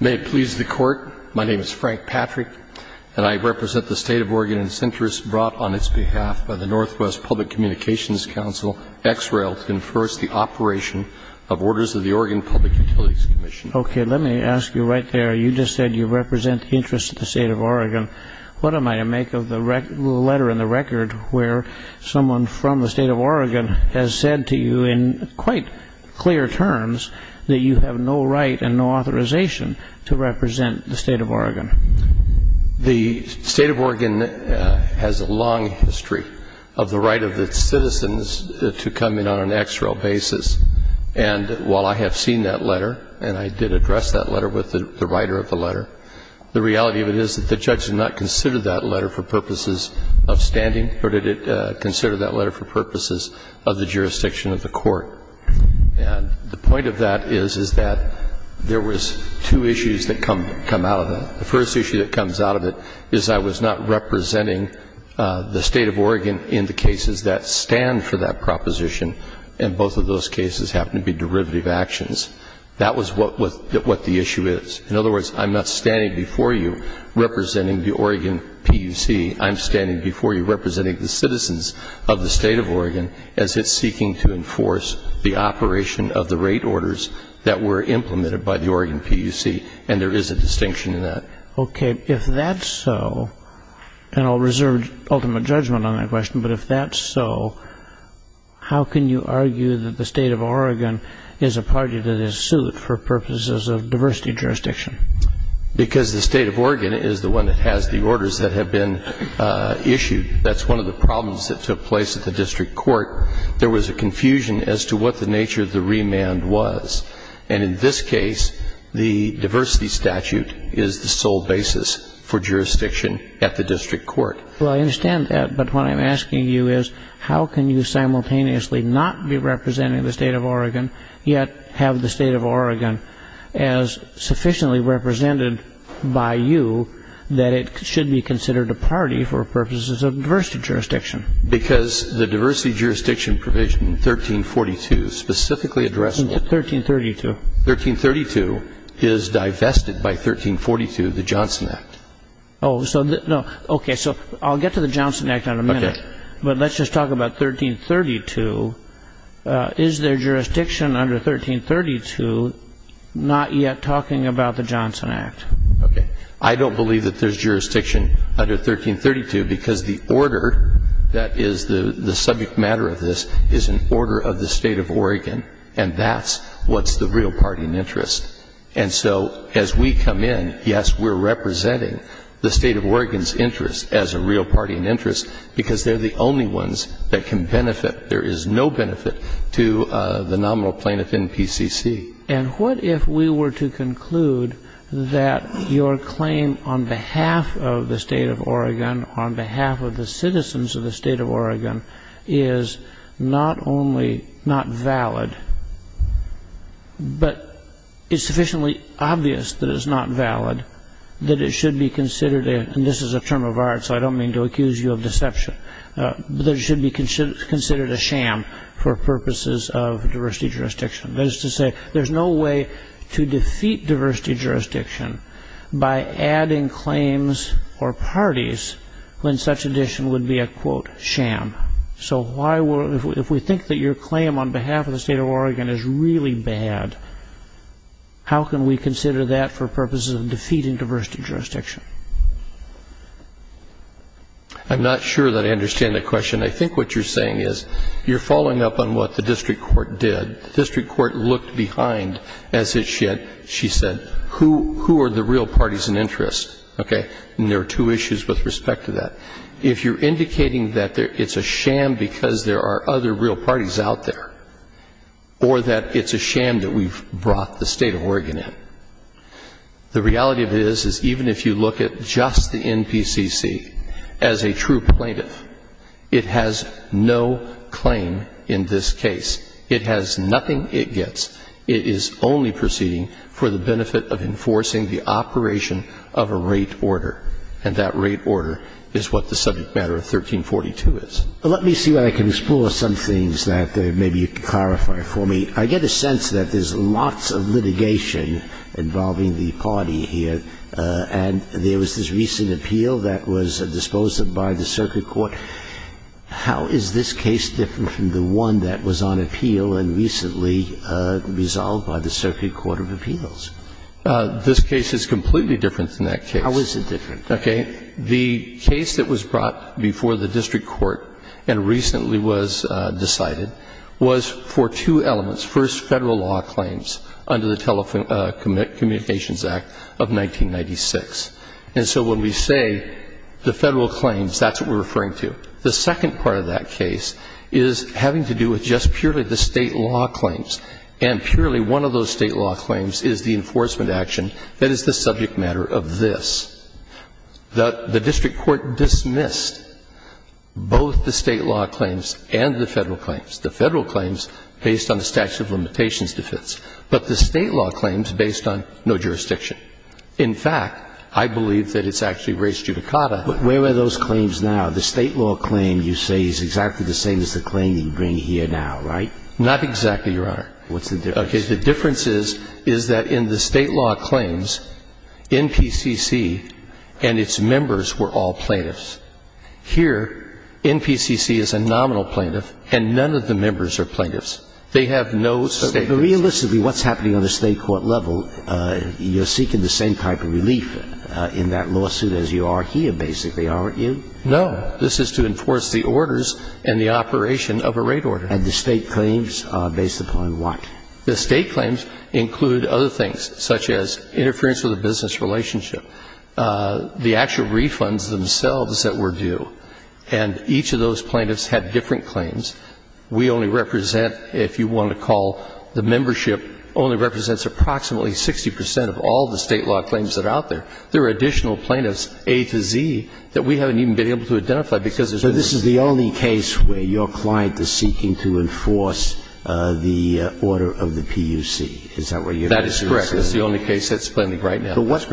May it please the Court, my name is Frank Patrick, and I represent the State of Oregon and its interests brought on its behalf by the Northwest Public Communications Council, X-Rail, to enforce the operation of orders of the Oregon Public Utilities Commission. You just said you represent the interests of the State of Oregon. What am I to make of the letter in the record where someone from the State of Oregon has said to you in quite clear terms that you have no right and no authorization to represent the State of Oregon? The State of Oregon has a long history of the right of its citizens to come in on an X-Rail basis, and while I have seen that letter, and I did address that letter with the writer of the letter, the reality of it is that the judge did not consider that letter for purposes of standing, but did consider that letter for purposes of the jurisdiction of the court. And the point of that is, is that there was two issues that come out of it. The first issue that comes out of it is I was not representing the State of Oregon in the cases that stand for that proposition, and both of those cases happen to be derivative actions. That was what the issue is. In other words, I'm not standing before you representing the Oregon PUC. I'm standing before you representing the citizens of the State of Oregon as it's seeking to enforce the operation of the rate orders that were implemented by the Oregon PUC, and there is a distinction in that. Okay. If that's so, and I'll reserve ultimate judgment on that question, but if that's so, how can you argue that the State of Oregon is a party that is suit for purposes of diversity jurisdiction? Because the State of Oregon is the one that has the orders that have been issued. That's one of the problems that took place at the district court. There was a confusion as to what the nature of the remand was. And in this case, the diversity statute is the sole basis for jurisdiction at the district court. Well, I understand that, but what I'm asking you is how can you simultaneously not be representing the State of Oregon, yet have the State of Oregon as sufficiently represented by you that it should be considered a party for purposes of diversity jurisdiction? Because the diversity jurisdiction provision 1342, specifically addressable... 1332. 1332 is divested by 1342, the Johnson Act. Okay, so I'll get to the Johnson Act in a minute, but let's just talk about 1332. Is there jurisdiction under 1332 not yet talking about the Johnson Act? I don't believe that there's jurisdiction under 1332 because the order that is the subject matter of this is an order of the State of Oregon, and that's what's the real party in interest. And so as we come in, yes, we're representing the State of Oregon's interest as a real party in interest because they're the only ones that can benefit. There is no benefit to the nominal plaintiff in PCC. And what if we were to conclude that your claim on behalf of the State of Oregon, on behalf of the citizens of the State of Oregon, is not only not valid, but it's sufficiently obvious that it's not valid, that it should be considered, and this is a term of art so I don't mean to accuse you of deception, that it should be considered a sham for purposes of diversity jurisdiction. That is to say, there's no way to defeat diversity jurisdiction by adding claims or parties when such addition would be a, quote, sham. So if we think that your claim on behalf of the State of Oregon is really bad, how can we consider that for purposes of defeating diversity jurisdiction? I'm not sure that I understand the question. I think what you're saying is you're following up on what the district court did. The district court looked behind, as it should, she said, who are the real parties in interest, okay? And there are two issues with respect to that. If you're indicating that it's a sham because there are other real parties out there, or that it's a sham that we've brought the State of Oregon in, the reality of it is, is even if you look at just the NPCC as a true plaintiff, it has no claim in this case. It has nothing it gets. It is only proceeding for the benefit of enforcing the operation of a rate order, and that rate order is what the subject matter of 1342 is. Let me see where I can explore some things that maybe you can clarify for me. I get a sense that there's lots of litigation involving the party here, and there was this recent appeal that was disposed of by the circuit court. How is this case different from the one that was on appeal and recently resolved by the circuit court of appeals? This case is completely different than that case. How is it different? Okay. The case that was brought before the district court and recently was decided was for two elements. First, Federal law claims under the Telecommunications Act of 1996. And so when we say the Federal claims, that's what we're referring to. The second part of that case is having to do with just purely the State law claims. And purely one of those State law claims is the enforcement action that is the subject matter of this. The district court dismissed both the State law claims and the Federal claims. The Federal claims based on the statute of limitations defense, but the State law claims based on no jurisdiction. In fact, I believe that it's actually race judicata. But where are those claims now? The State law claim you say is exactly the same as the claim you bring here now, right? Not exactly, Your Honor. What's the difference? Okay. The difference is, is that in the State law claims, NPCC and its members were all plaintiffs. Here, NPCC is a nominal plaintiff, and none of the members are plaintiffs. They have no State claims. No. This is to enforce the orders and the operation of a rate order. And the State claims are based upon what? The State claims include other things, such as interference with a business relationship, the actual refunds themselves that were due. And each of those plaintiffs had different claims. We only represent, if you want to call the membership, only represents approximately 60% of all the State law claims that are out there. There are additional plaintiffs, A to Z, that we haven't even been able to identify because there's more. So this is the only case where your client is seeking to enforce the order of the PUC. Is that what you're saying? That is correct. That's the only case that's pending right now. But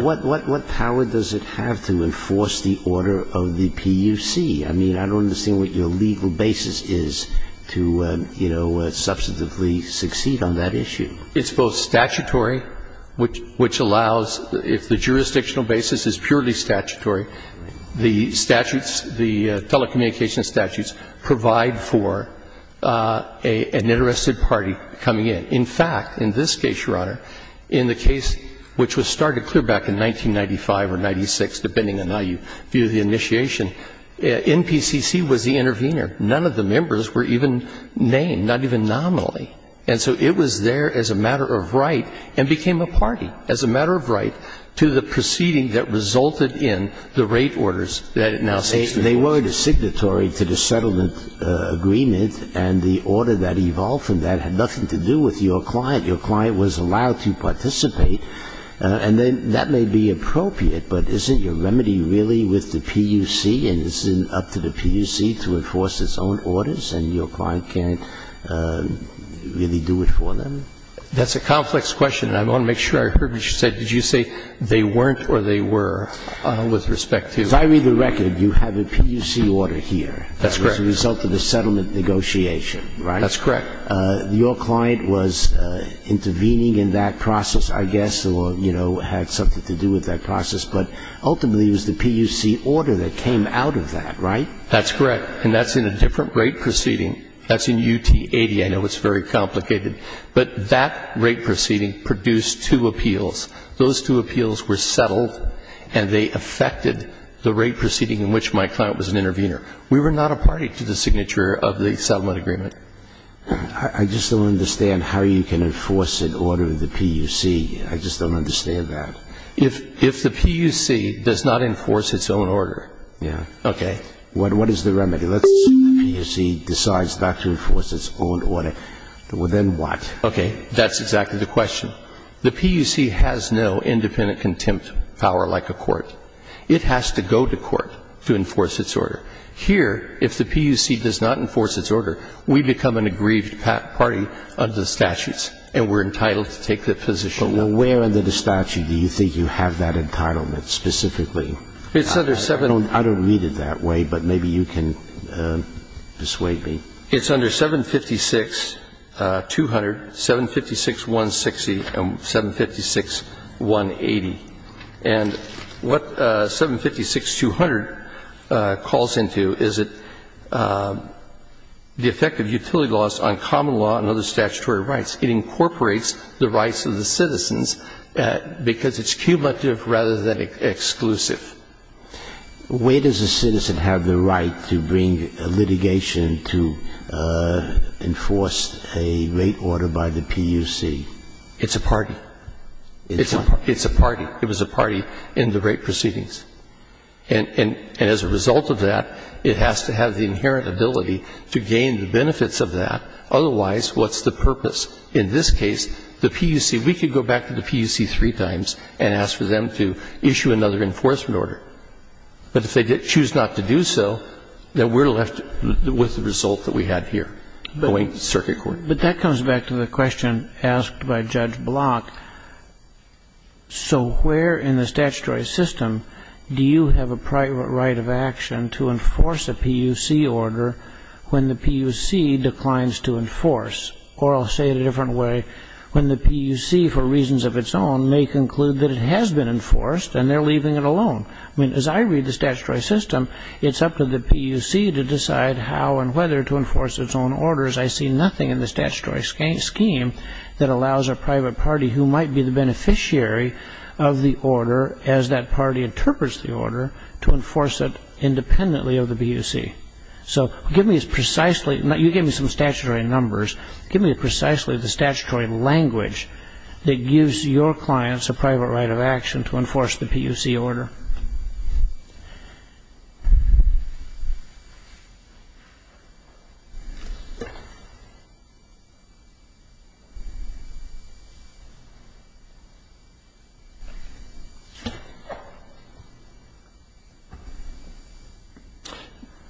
what power does it have to enforce the order of the PUC? I mean, I don't understand what your legal basis is to, you know, substantively succeed on that issue. It's both statutory, which allows, if the jurisdictional basis is purely statutory, the statutes, the telecommunications statutes, provide for an interested party coming in. In fact, in this case, Your Honor, in the case which was started clear back in 1995 or 96, depending on how you view the initiation, NPCC was the intervener. None of the members were even named, not even nominally. And so it was there as a matter of right and became a party, as a matter of right, to the proceeding that resulted in the rate orders that it now seeks to enforce. They were the signatory to the settlement agreement, and the order that evolved from that had nothing to do with your client. Your client was allowed to participate. And that may be appropriate, but isn't your remedy really with the PUC? And isn't it up to the PUC to enforce its own orders, and your client can't really do it for them? That's a complex question, and I want to make sure I heard what you said. Did you say they weren't or they were with respect to the PUC? As I read the record, you have a PUC order here. That's correct. As a result of the settlement negotiation, right? That's correct. Your client was intervening in that process, I guess, or had something to do with that process, but ultimately it was the PUC order that came out of that, right? That's correct. And that's in a different rate proceeding. That's in UT80. I know it's very complicated. But that rate proceeding produced two appeals. Those two appeals were settled, and they affected the rate proceeding in which my client was an intervener. We were not a party to the signature of the settlement agreement. I just don't understand how you can enforce an order of the PUC. I just don't understand that. If the PUC does not enforce its own order. Yeah. Okay. What is the remedy? Let's say the PUC decides not to enforce its own order. Well, then what? Okay. That's exactly the question. The PUC has no independent contempt power like a court. It has to go to court to enforce its order. Here, if the PUC does not enforce its order, we become an aggrieved party under the statutes, and we're entitled to take that position. But where under the statute do you think you have that entitlement specifically? It's under 7. I don't read it that way, but maybe you can persuade me. It's under 756-200, 756-160, and 756-180. And what 756-200 calls into is the effect of utility laws on common law and other statutory rights. It incorporates the rights of the citizens because it's cumulative rather than exclusive. Where does a citizen have the right to bring litigation to enforce a rate order by the PUC? It's a party. It's a party. It's a party. It was a party in the rate proceedings. And as a result of that, it has to have the inherent ability to gain the benefits of that. Otherwise, what's the purpose? In this case, the PUC, we could go back to the PUC three times and ask for them to issue another enforcement order. But if they choose not to do so, then we're left with the result that we have here going to circuit court. But that comes back to the question asked by Judge Block. So where in the statutory system do you have a private right of action to enforce a PUC order when the PUC declines to enforce? Or I'll say it a different way. When the PUC, for reasons of its own, may conclude that it has been enforced and they're leaving it alone. I mean, as I read the statutory system, it's up to the PUC to decide how and whether to enforce its own orders. I see nothing in the statutory scheme that allows a private party, who might be the beneficiary of the order as that party interprets the order, to enforce it independently of the PUC. So give me precisely the statutory language that gives your clients a private right of action to enforce the PUC order.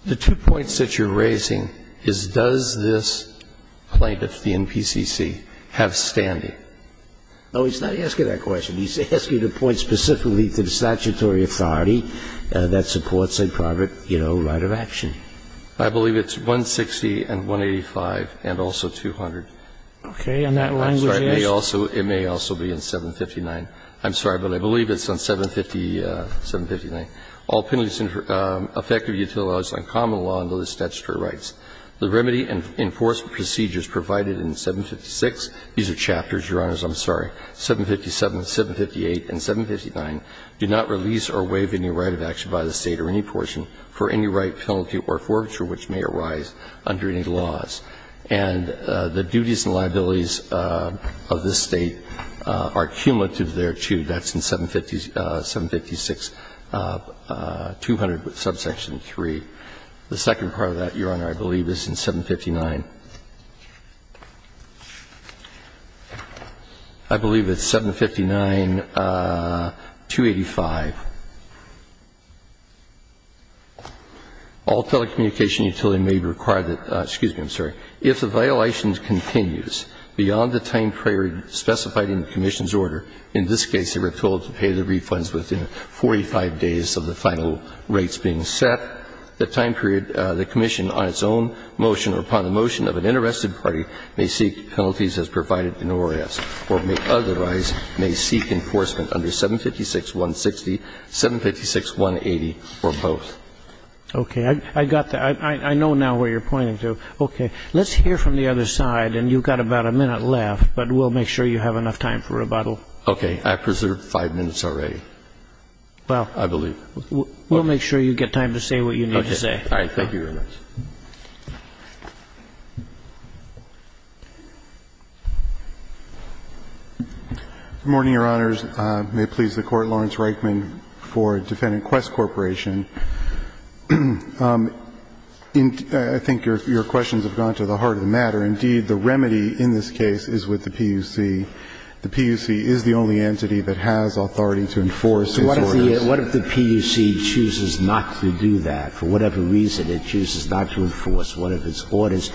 The two points that you're raising is does this plaintiff, the NPCC, have standing? No, he's not asking that question. He's asking the point specifically to the statutory authority that supports a private, you know, right of action. I believe it's 160 and 185. And also 200. Okay. And that language is? I'm sorry. It may also be in 759. I'm sorry. But I believe it's on 759. All penalties effective until law is uncommon law under the statutory rights. The remedy and enforcement procedures provided in 756. These are chapters, Your Honors. I'm sorry. 757, 758 and 759 do not release or waive any right of action by the State or any portion for any right, penalty or forfeiture which may arise under any laws. And the duties and liabilities of this State are cumulative there, too. That's in 756, 200 with subsection 3. The second part of that, Your Honor, I believe is in 759. I believe it's 759, 285. All telecommunication utility may require that, excuse me, I'm sorry, if the violation continues beyond the time period specified in the commission's order, in this case they were told to pay the refunds within 45 days of the final rates being set, the time period the commission on its own motion or upon the motion of an interested party may seek penalties as provided in ORAS or may otherwise may seek enforcement under 756, 160, 756, 180 or both. Okay. I got that. I know now where you're pointing to. Okay. Let's hear from the other side, and you've got about a minute left, but we'll make sure you have enough time for rebuttal. Okay. I preserved five minutes already. Well. I believe. We'll make sure you get time to say what you need to say. Okay. All right. Thank you very much. Good morning, Your Honors. May it please the Court, Lawrence Reichman for Defendant Quest Corporation. I think your questions have gone to the heart of the matter. Indeed, the remedy in this case is with the PUC. The PUC is the only entity that has authority to enforce its orders. What if the PUC chooses not to do that? For whatever reason, it chooses not to enforce one of its orders.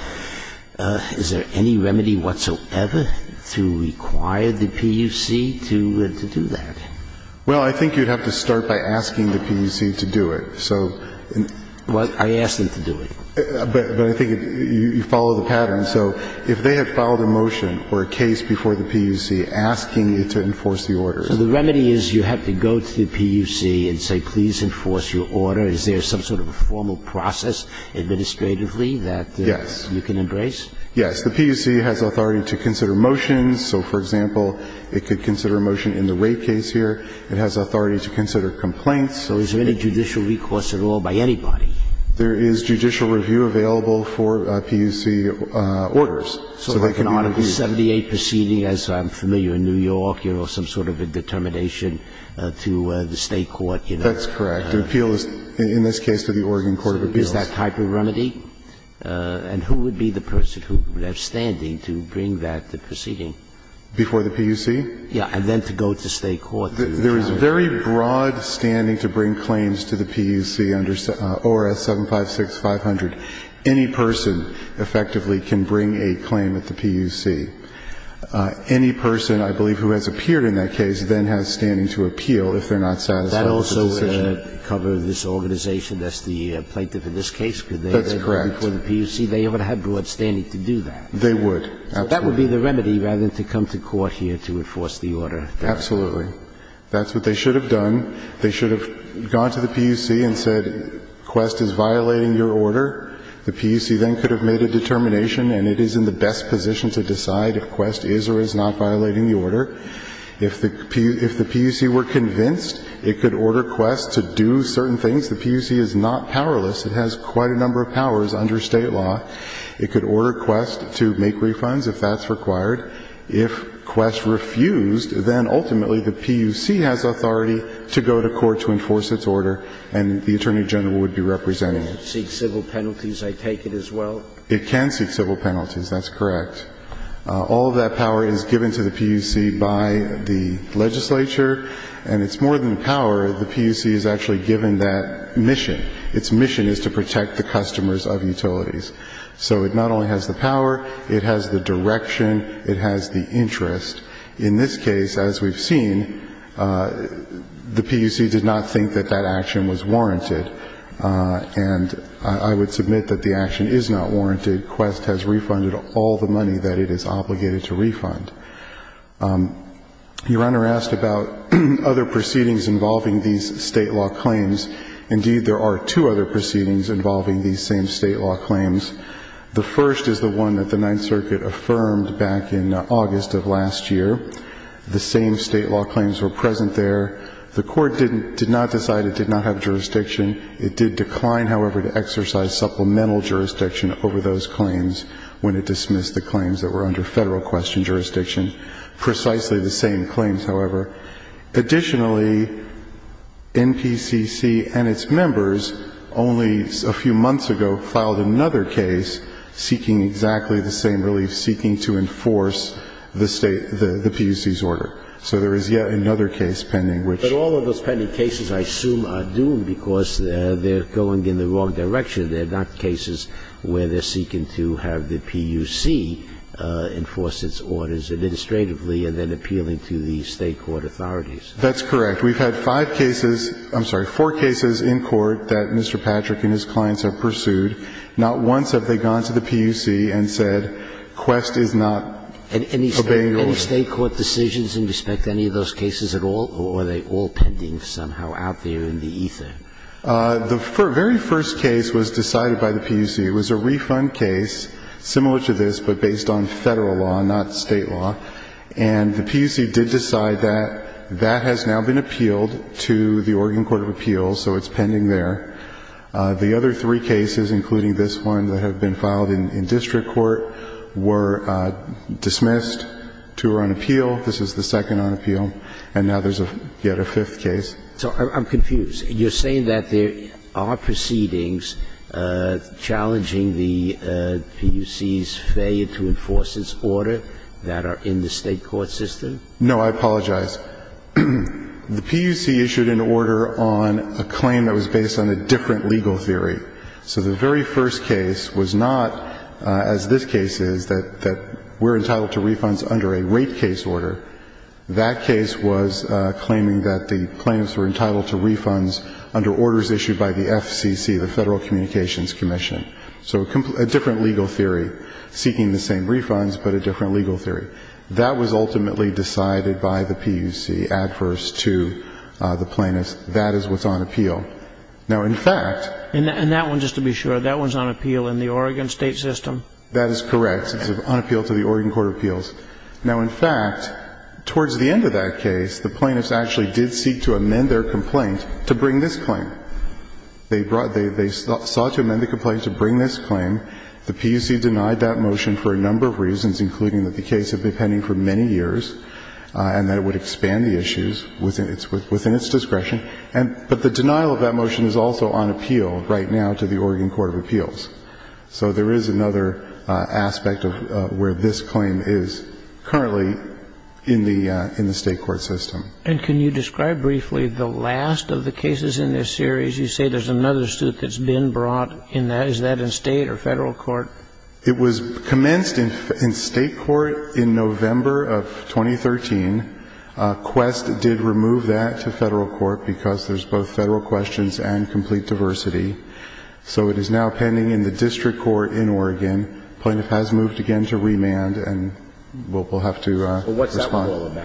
Is there any remedy whatsoever to require the PUC to do that? Well, I think you'd have to start by asking the PUC to do it. So. Well, I asked them to do it. But I think you follow the pattern. So if they had filed a motion or a case before the PUC asking you to enforce the orders. So the remedy is you have to go to the PUC and say, please enforce your order. Is there some sort of a formal process administratively that you can embrace? Yes. Yes. The PUC has authority to consider motions. So, for example, it could consider a motion in the rape case here. It has authority to consider complaints. So is there any judicial recourse at all by anybody? There is judicial review available for PUC orders. So if I can honor the 78 proceeding, as I'm familiar in New York, you have some sort of a determination to the State court, you know. That's correct. Appeal is, in this case, to the Oregon Court of Appeals. Is that type of remedy? And who would be the person who would have standing to bring that proceeding? Before the PUC? Yes. And then to go to State court. There is very broad standing to bring claims to the PUC under ORS 756-500. Any person, effectively, can bring a claim at the PUC. Any person, I believe, who has appeared in that case then has standing to appeal if they're not satisfied with the decision. That also would cover this organization that's the plaintiff in this case? That's correct. Because before the PUC, they would have broad standing to do that. They would. Absolutely. So that would be the remedy rather than to come to court here to enforce the order. Absolutely. That's what they should have done. They should have gone to the PUC and said, Quest is violating your order. The PUC then could have made a determination, and it is in the best position to decide if Quest is or is not violating the order. If the PUC were convinced, it could order Quest to do certain things. The PUC is not powerless. It has quite a number of powers under State law. It could order Quest to make refunds if that's required. If Quest refused, then ultimately the PUC has authority to go to court to enforce its order, and the Attorney General would be representing it. It would seek civil penalties, I take it, as well? It can seek civil penalties. That's correct. All of that power is given to the PUC by the legislature, and it's more than power. The PUC is actually given that mission. Its mission is to protect the customers of utilities. So it not only has the power, it has the direction, it has the interest. In this case, as we've seen, the PUC did not think that that action was warranted, and I would submit that the action is not warranted. Quest has refunded all the money that it is obligated to refund. Your Honor asked about other proceedings involving these State law claims. Indeed, there are two other proceedings involving these same State law claims. The first is the one that the Ninth Circuit affirmed back in August of last year. The same State law claims were present there. The Court did not decide it did not have jurisdiction. It did decline, however, to exercise supplemental jurisdiction over those claims when it dismissed the claims that were under Federal Question jurisdiction, precisely the same claims, however. Additionally, NPCC and its members only a few months ago filed another case seeking exactly the same relief, seeking to enforce the State, the PUC's order. So there is yet another case pending which ---- But all of those pending cases, I assume, are doomed because they're going in the wrong direction. They're not cases where they're seeking to have the PUC enforce its orders administratively and then appealing to the State court authorities. That's correct. We've had five cases ---- I'm sorry, four cases in court that Mr. Patrick and his clients have pursued. Not once have they gone to the PUC and said, Quest is not obeying orders. Any State court decisions in respect to any of those cases at all, or are they all pending somehow out there in the ether? The very first case was decided by the PUC. It was a refund case similar to this, but based on Federal law, not State law. And the PUC did decide that. That has now been appealed to the Oregon Court of Appeals, so it's pending there. The other three cases, including this one that have been filed in district court, were dismissed. Two are on appeal. This is the second on appeal. And now there's yet a fifth case. So I'm confused. You're saying that there are proceedings challenging the PUC's failure to enforce its order that are in the State court system? No, I apologize. The PUC issued an order on a claim that was based on a different legal theory. So the very first case was not, as this case is, that we're entitled to refunds under a rape case order. That case was claiming that the plaintiffs were entitled to refunds under orders issued by the FCC, the Federal Communications Commission. So a different legal theory seeking the same refunds, but a different legal theory. That was ultimately decided by the PUC adverse to the plaintiffs. That is what's on appeal. Now, in fact ---- And that one, just to be sure, that one's on appeal in the Oregon State system? That is correct. It's on appeal to the Oregon Court of Appeals. Now, in fact, towards the end of that case, the plaintiffs actually did seek to amend their complaint to bring this claim. They sought to amend the complaint to bring this claim. The PUC denied that motion for a number of reasons, including that the case had been pending for many years and that it would expand the issues within its discretion. But the denial of that motion is also on appeal right now to the Oregon Court of Appeals. So there is another aspect of where this claim is currently in the State court system. And can you describe briefly the last of the cases in this series? You say there's another suit that's been brought in that. Is that in State or Federal court? It was commenced in State court in November of 2013. Quest did remove that to Federal court because there's both Federal questions and complete diversity. So it is now pending in the district court in Oregon. The plaintiff has moved again to remand, and we'll have to respond.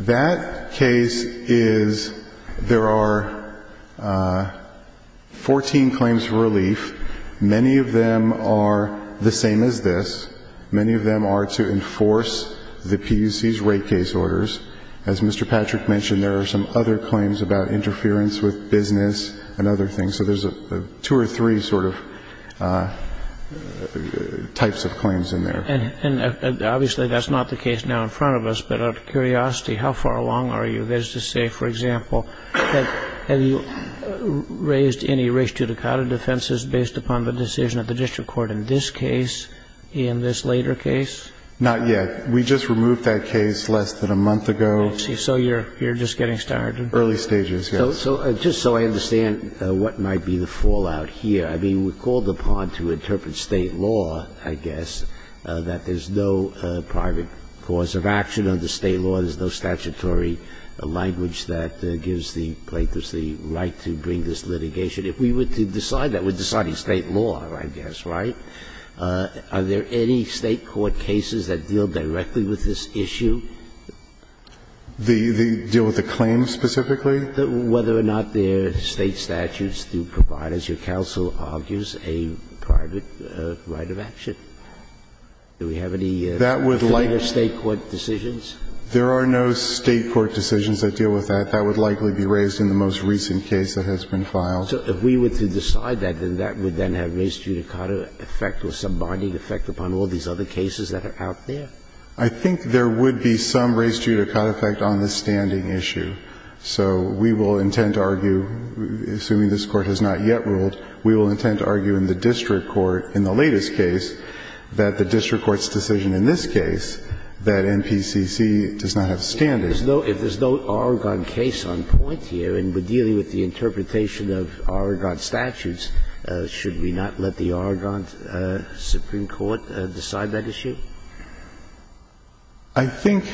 That case is, there are 14 claims for relief. Many of them are the same as this. Many of them are to enforce the PUC's rate case orders. As Mr. Patrick mentioned, there are some other claims about interference with business and other things. So there's two or three sort of types of claims in there. And obviously that's not the case now in front of us. But out of curiosity, how far along are you? That is to say, for example, have you raised any race judicata defenses based upon the decision of the district court in this case, in this later case? Not yet. We just removed that case less than a month ago. I see. So you're just getting started. Early stages, yes. So just so I understand what might be the fallout here, I mean, we're called upon to interpret State law, I guess, that there's no private cause of action under State law, there's no statutory language that gives the plaintiff the right to bring this litigation. If we were to decide that, we're deciding State law, I guess, right? Are there any State court cases that deal directly with this issue? Deal with the claim specifically? Whether or not there are State statutes to provide, as your counsel argues, a private right of action? Do we have any further State court decisions? There are no State court decisions that deal with that. That would likely be raised in the most recent case that has been filed. So if we were to decide that, then that would then have race judicata effect or some binding effect upon all these other cases that are out there? I think there would be some race judicata effect on the standing issue. So we will intend to argue, assuming this Court has not yet ruled, we will intend to argue in the district court in the latest case that the district court's decision in this case, that NPCC does not have standing. If there's no Aragon case on point here and we're dealing with the interpretation of Aragon statutes, should we not let the Aragon supreme court decide that issue? I think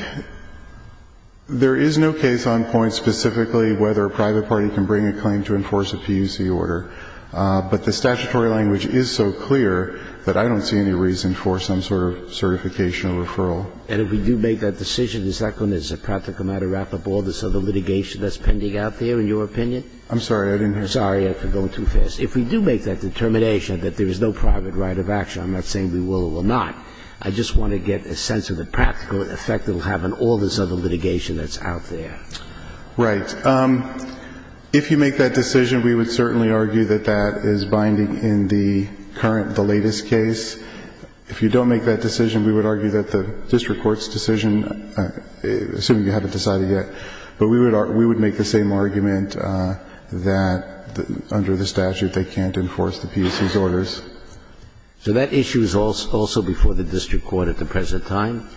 there is no case on point specifically whether a private party can bring a claim to enforce a PUC order. But the statutory language is so clear that I don't see any reason for some sort of certification or referral. And if we do make that decision, is that going to, as a practical matter, wrap up all this other litigation that's pending out there, in your opinion? I'm sorry, I didn't hear you. Sorry, I'm going too fast. If we do make that determination that there is no private right of action, I'm not saying we will or will not. I just want to get a sense of the practical effect that will have on all this other litigation that's out there. Right. If you make that decision, we would certainly argue that that is binding in the current the latest case. If you don't make that decision, we would argue that the district court's decision assuming you haven't decided yet, but we would make the same argument that under the statute they can't enforce the PUC's orders. So that issue is also before the district court at the present time?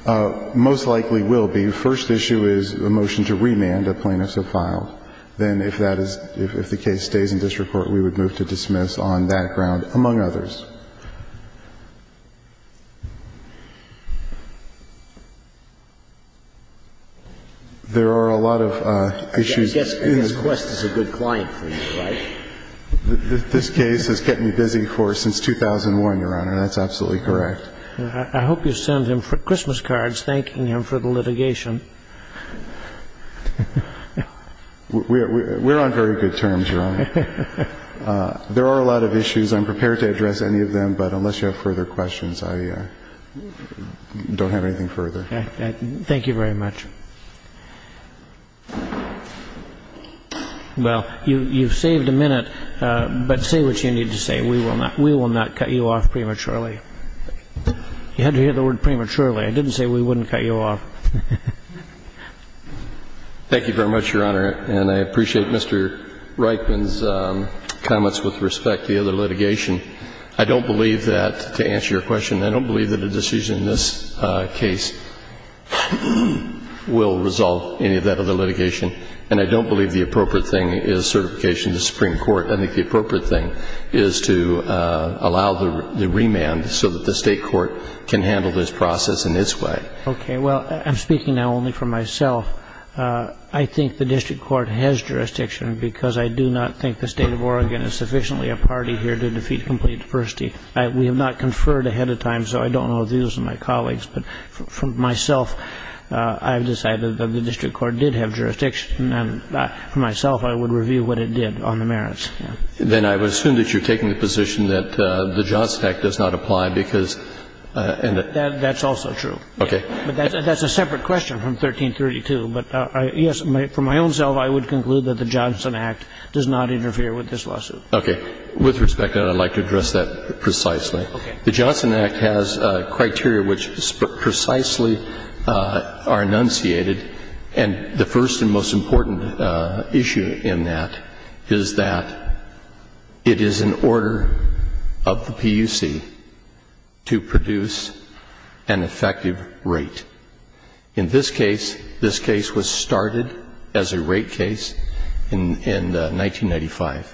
Most likely will be. If the first issue is a motion to remand a plaintiff so filed, then if that is, if the case stays in district court, we would move to dismiss on that ground, among others. There are a lot of issues. I guess Quest is a good client for you, right? This case has kept me busy for, since 2001, Your Honor. That's absolutely correct. I hope you send him Christmas cards thanking him for the litigation. We're on very good terms, Your Honor. There are a lot of issues. I'm prepared to address any of them, but unless you have further questions, I don't have anything further. Thank you very much. Well, you've saved a minute, but say what you need to say. We will not cut you off prematurely. You had to hear the word prematurely. I didn't say we wouldn't cut you off. Thank you very much, Your Honor, and I appreciate Mr. Reitman's comments with respect to the other litigation. I don't believe that, to answer your question, I don't believe that a decision in this case will resolve any of that other litigation, and I don't believe the appropriate thing is certification to the Supreme Court. I think the appropriate thing is to allow the remand so that the state court can handle this process in its way. Okay. Well, I'm speaking now only for myself. I think the district court has jurisdiction because I do not think the state of Oregon is sufficiently a party here to defeat complete diversity. We have not conferred ahead of time, so I don't know if these are my colleagues, but for myself, I've decided that the district court did have jurisdiction, and for myself, I would review what it did on the merits. Then I would assume that you're taking the position that the Johnson Act does not apply because and the... That's also true. Okay. That's a separate question from 1332, but yes, for my own self, I would conclude that the Johnson Act does not interfere with this lawsuit. Okay. With respect, I'd like to address that precisely. Okay. The Johnson Act has criteria which precisely are enunciated, and the first and most important issue in that is that it is an order of the PUC to produce an effective rate. In this case, this case was started as a rate case in 1995.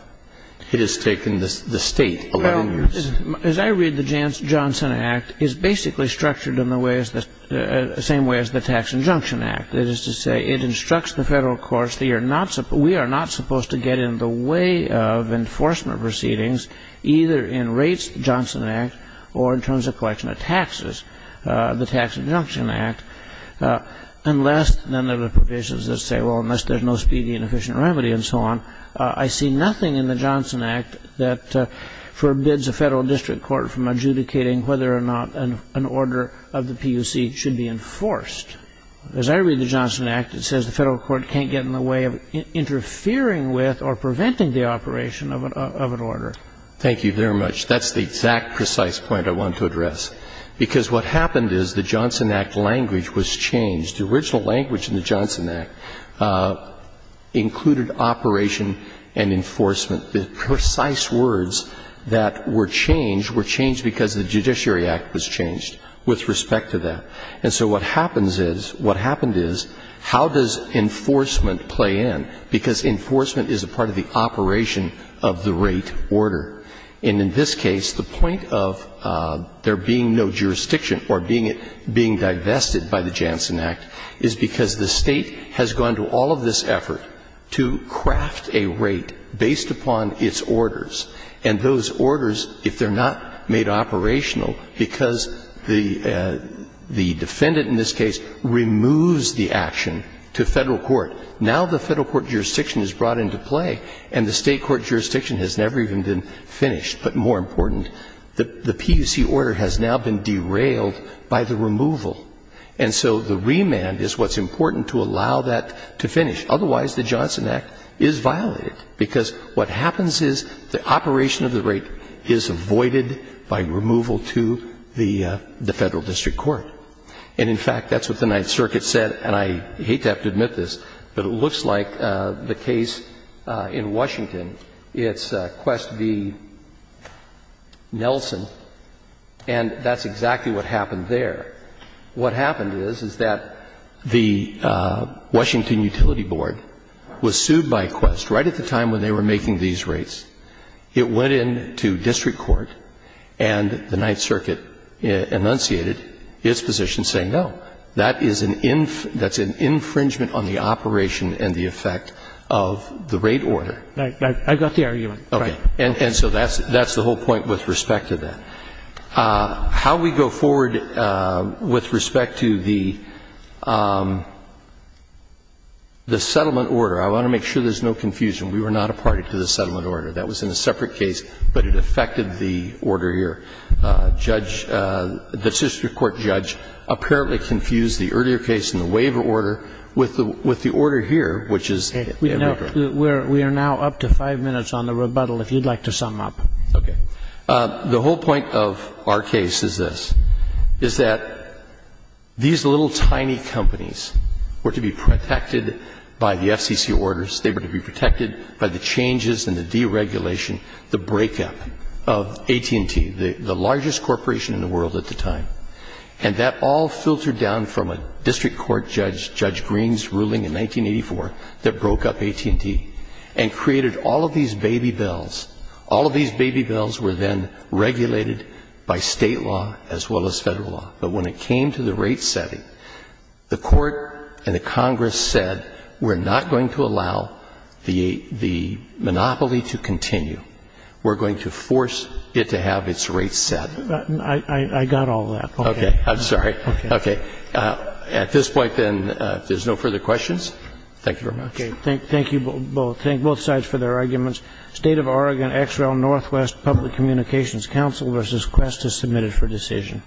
It has taken the state 11 years. Well, as I read, the Johnson Act is basically structured in the same way as the Tax Injunction Act. That is to say, it instructs the federal courts that we are not supposed to get in the way of enforcement proceedings, either in rates, the Johnson Act, or in terms of collection of taxes, the Tax Injunction Act, unless none of the provisions that say, well, unless there's no speedy and efficient remedy and so on. I see nothing in the Johnson Act that forbids a federal district court from adjudicating whether or not an order of the PUC should be enforced. As I read the Johnson Act, it says the federal court can't get in the way of interfering with or preventing the operation of an order. Thank you very much. That's the exact precise point I want to address, because what happened is the Johnson Act language was changed. The original language in the Johnson Act included operation and enforcement. The precise words that were changed were changed because the Judiciary Act was changed with respect to that. And so what happens is, what happened is, how does enforcement play in? Because enforcement is a part of the operation of the rate order. And in this case, the point of there being no jurisdiction or being divested by the Johnson Act is because the State has gone to all of this effort to craft a rate based upon its orders. And those orders, if they're not made operational, because the defendant in this case removes the action to federal court, now the federal court jurisdiction is brought into play and the State court jurisdiction has never even been finished. But more important, the PUC order has now been derailed by the removal. And so the remand is what's important to allow that to finish. Otherwise, the Johnson Act is violated, because what happens is the operation of the rate is avoided by removal to the Federal District Court. And in fact, that's what the Ninth Circuit said, and I hate to have to admit this, but it looks like the case in Washington, it's Quest v. Nelson, and that's exactly what happened there. What happened is, is that the Washington Utility Board was sued by Quest right at the time when they were making these rates. It went into district court and the Ninth Circuit enunciated its position saying, no, that is an infringement on the operation and the effect of the rate order. Right. I've got the argument. Okay. And so that's the whole point with respect to that. How we go forward with respect to the settlement order, I want to make sure there's no confusion. We were not a party to the settlement order. That was in a separate case, but it affected the order here. Judge, the district court judge apparently confused the earlier case and the waiver order with the order here, which is the waiver order. We are now up to five minutes on the rebuttal, if you'd like to sum up. Okay. The whole point of our case is this, is that these little tiny companies were to be protected by the FCC orders. They were to be protected by the changes and the deregulation, the breakup of AT&T, the largest corporation in the world at the time. And that all filtered down from a district court judge, Judge Green's ruling in 1984, that broke up AT&T and created all of these baby bells. All of these baby bells were then regulated by State law as well as Federal law. But when it came to the rate setting, the court and the Congress said we're not going to allow the monopoly to continue. We're going to force it to have its rates set. I got all that. Okay. I'm sorry. Okay. At this point, then, if there's no further questions, thank you very much. Okay. Thank you both. Thank both sides for their arguments. State of Oregon XREL Northwest Public Communications Council v. Quest is submitted for decision.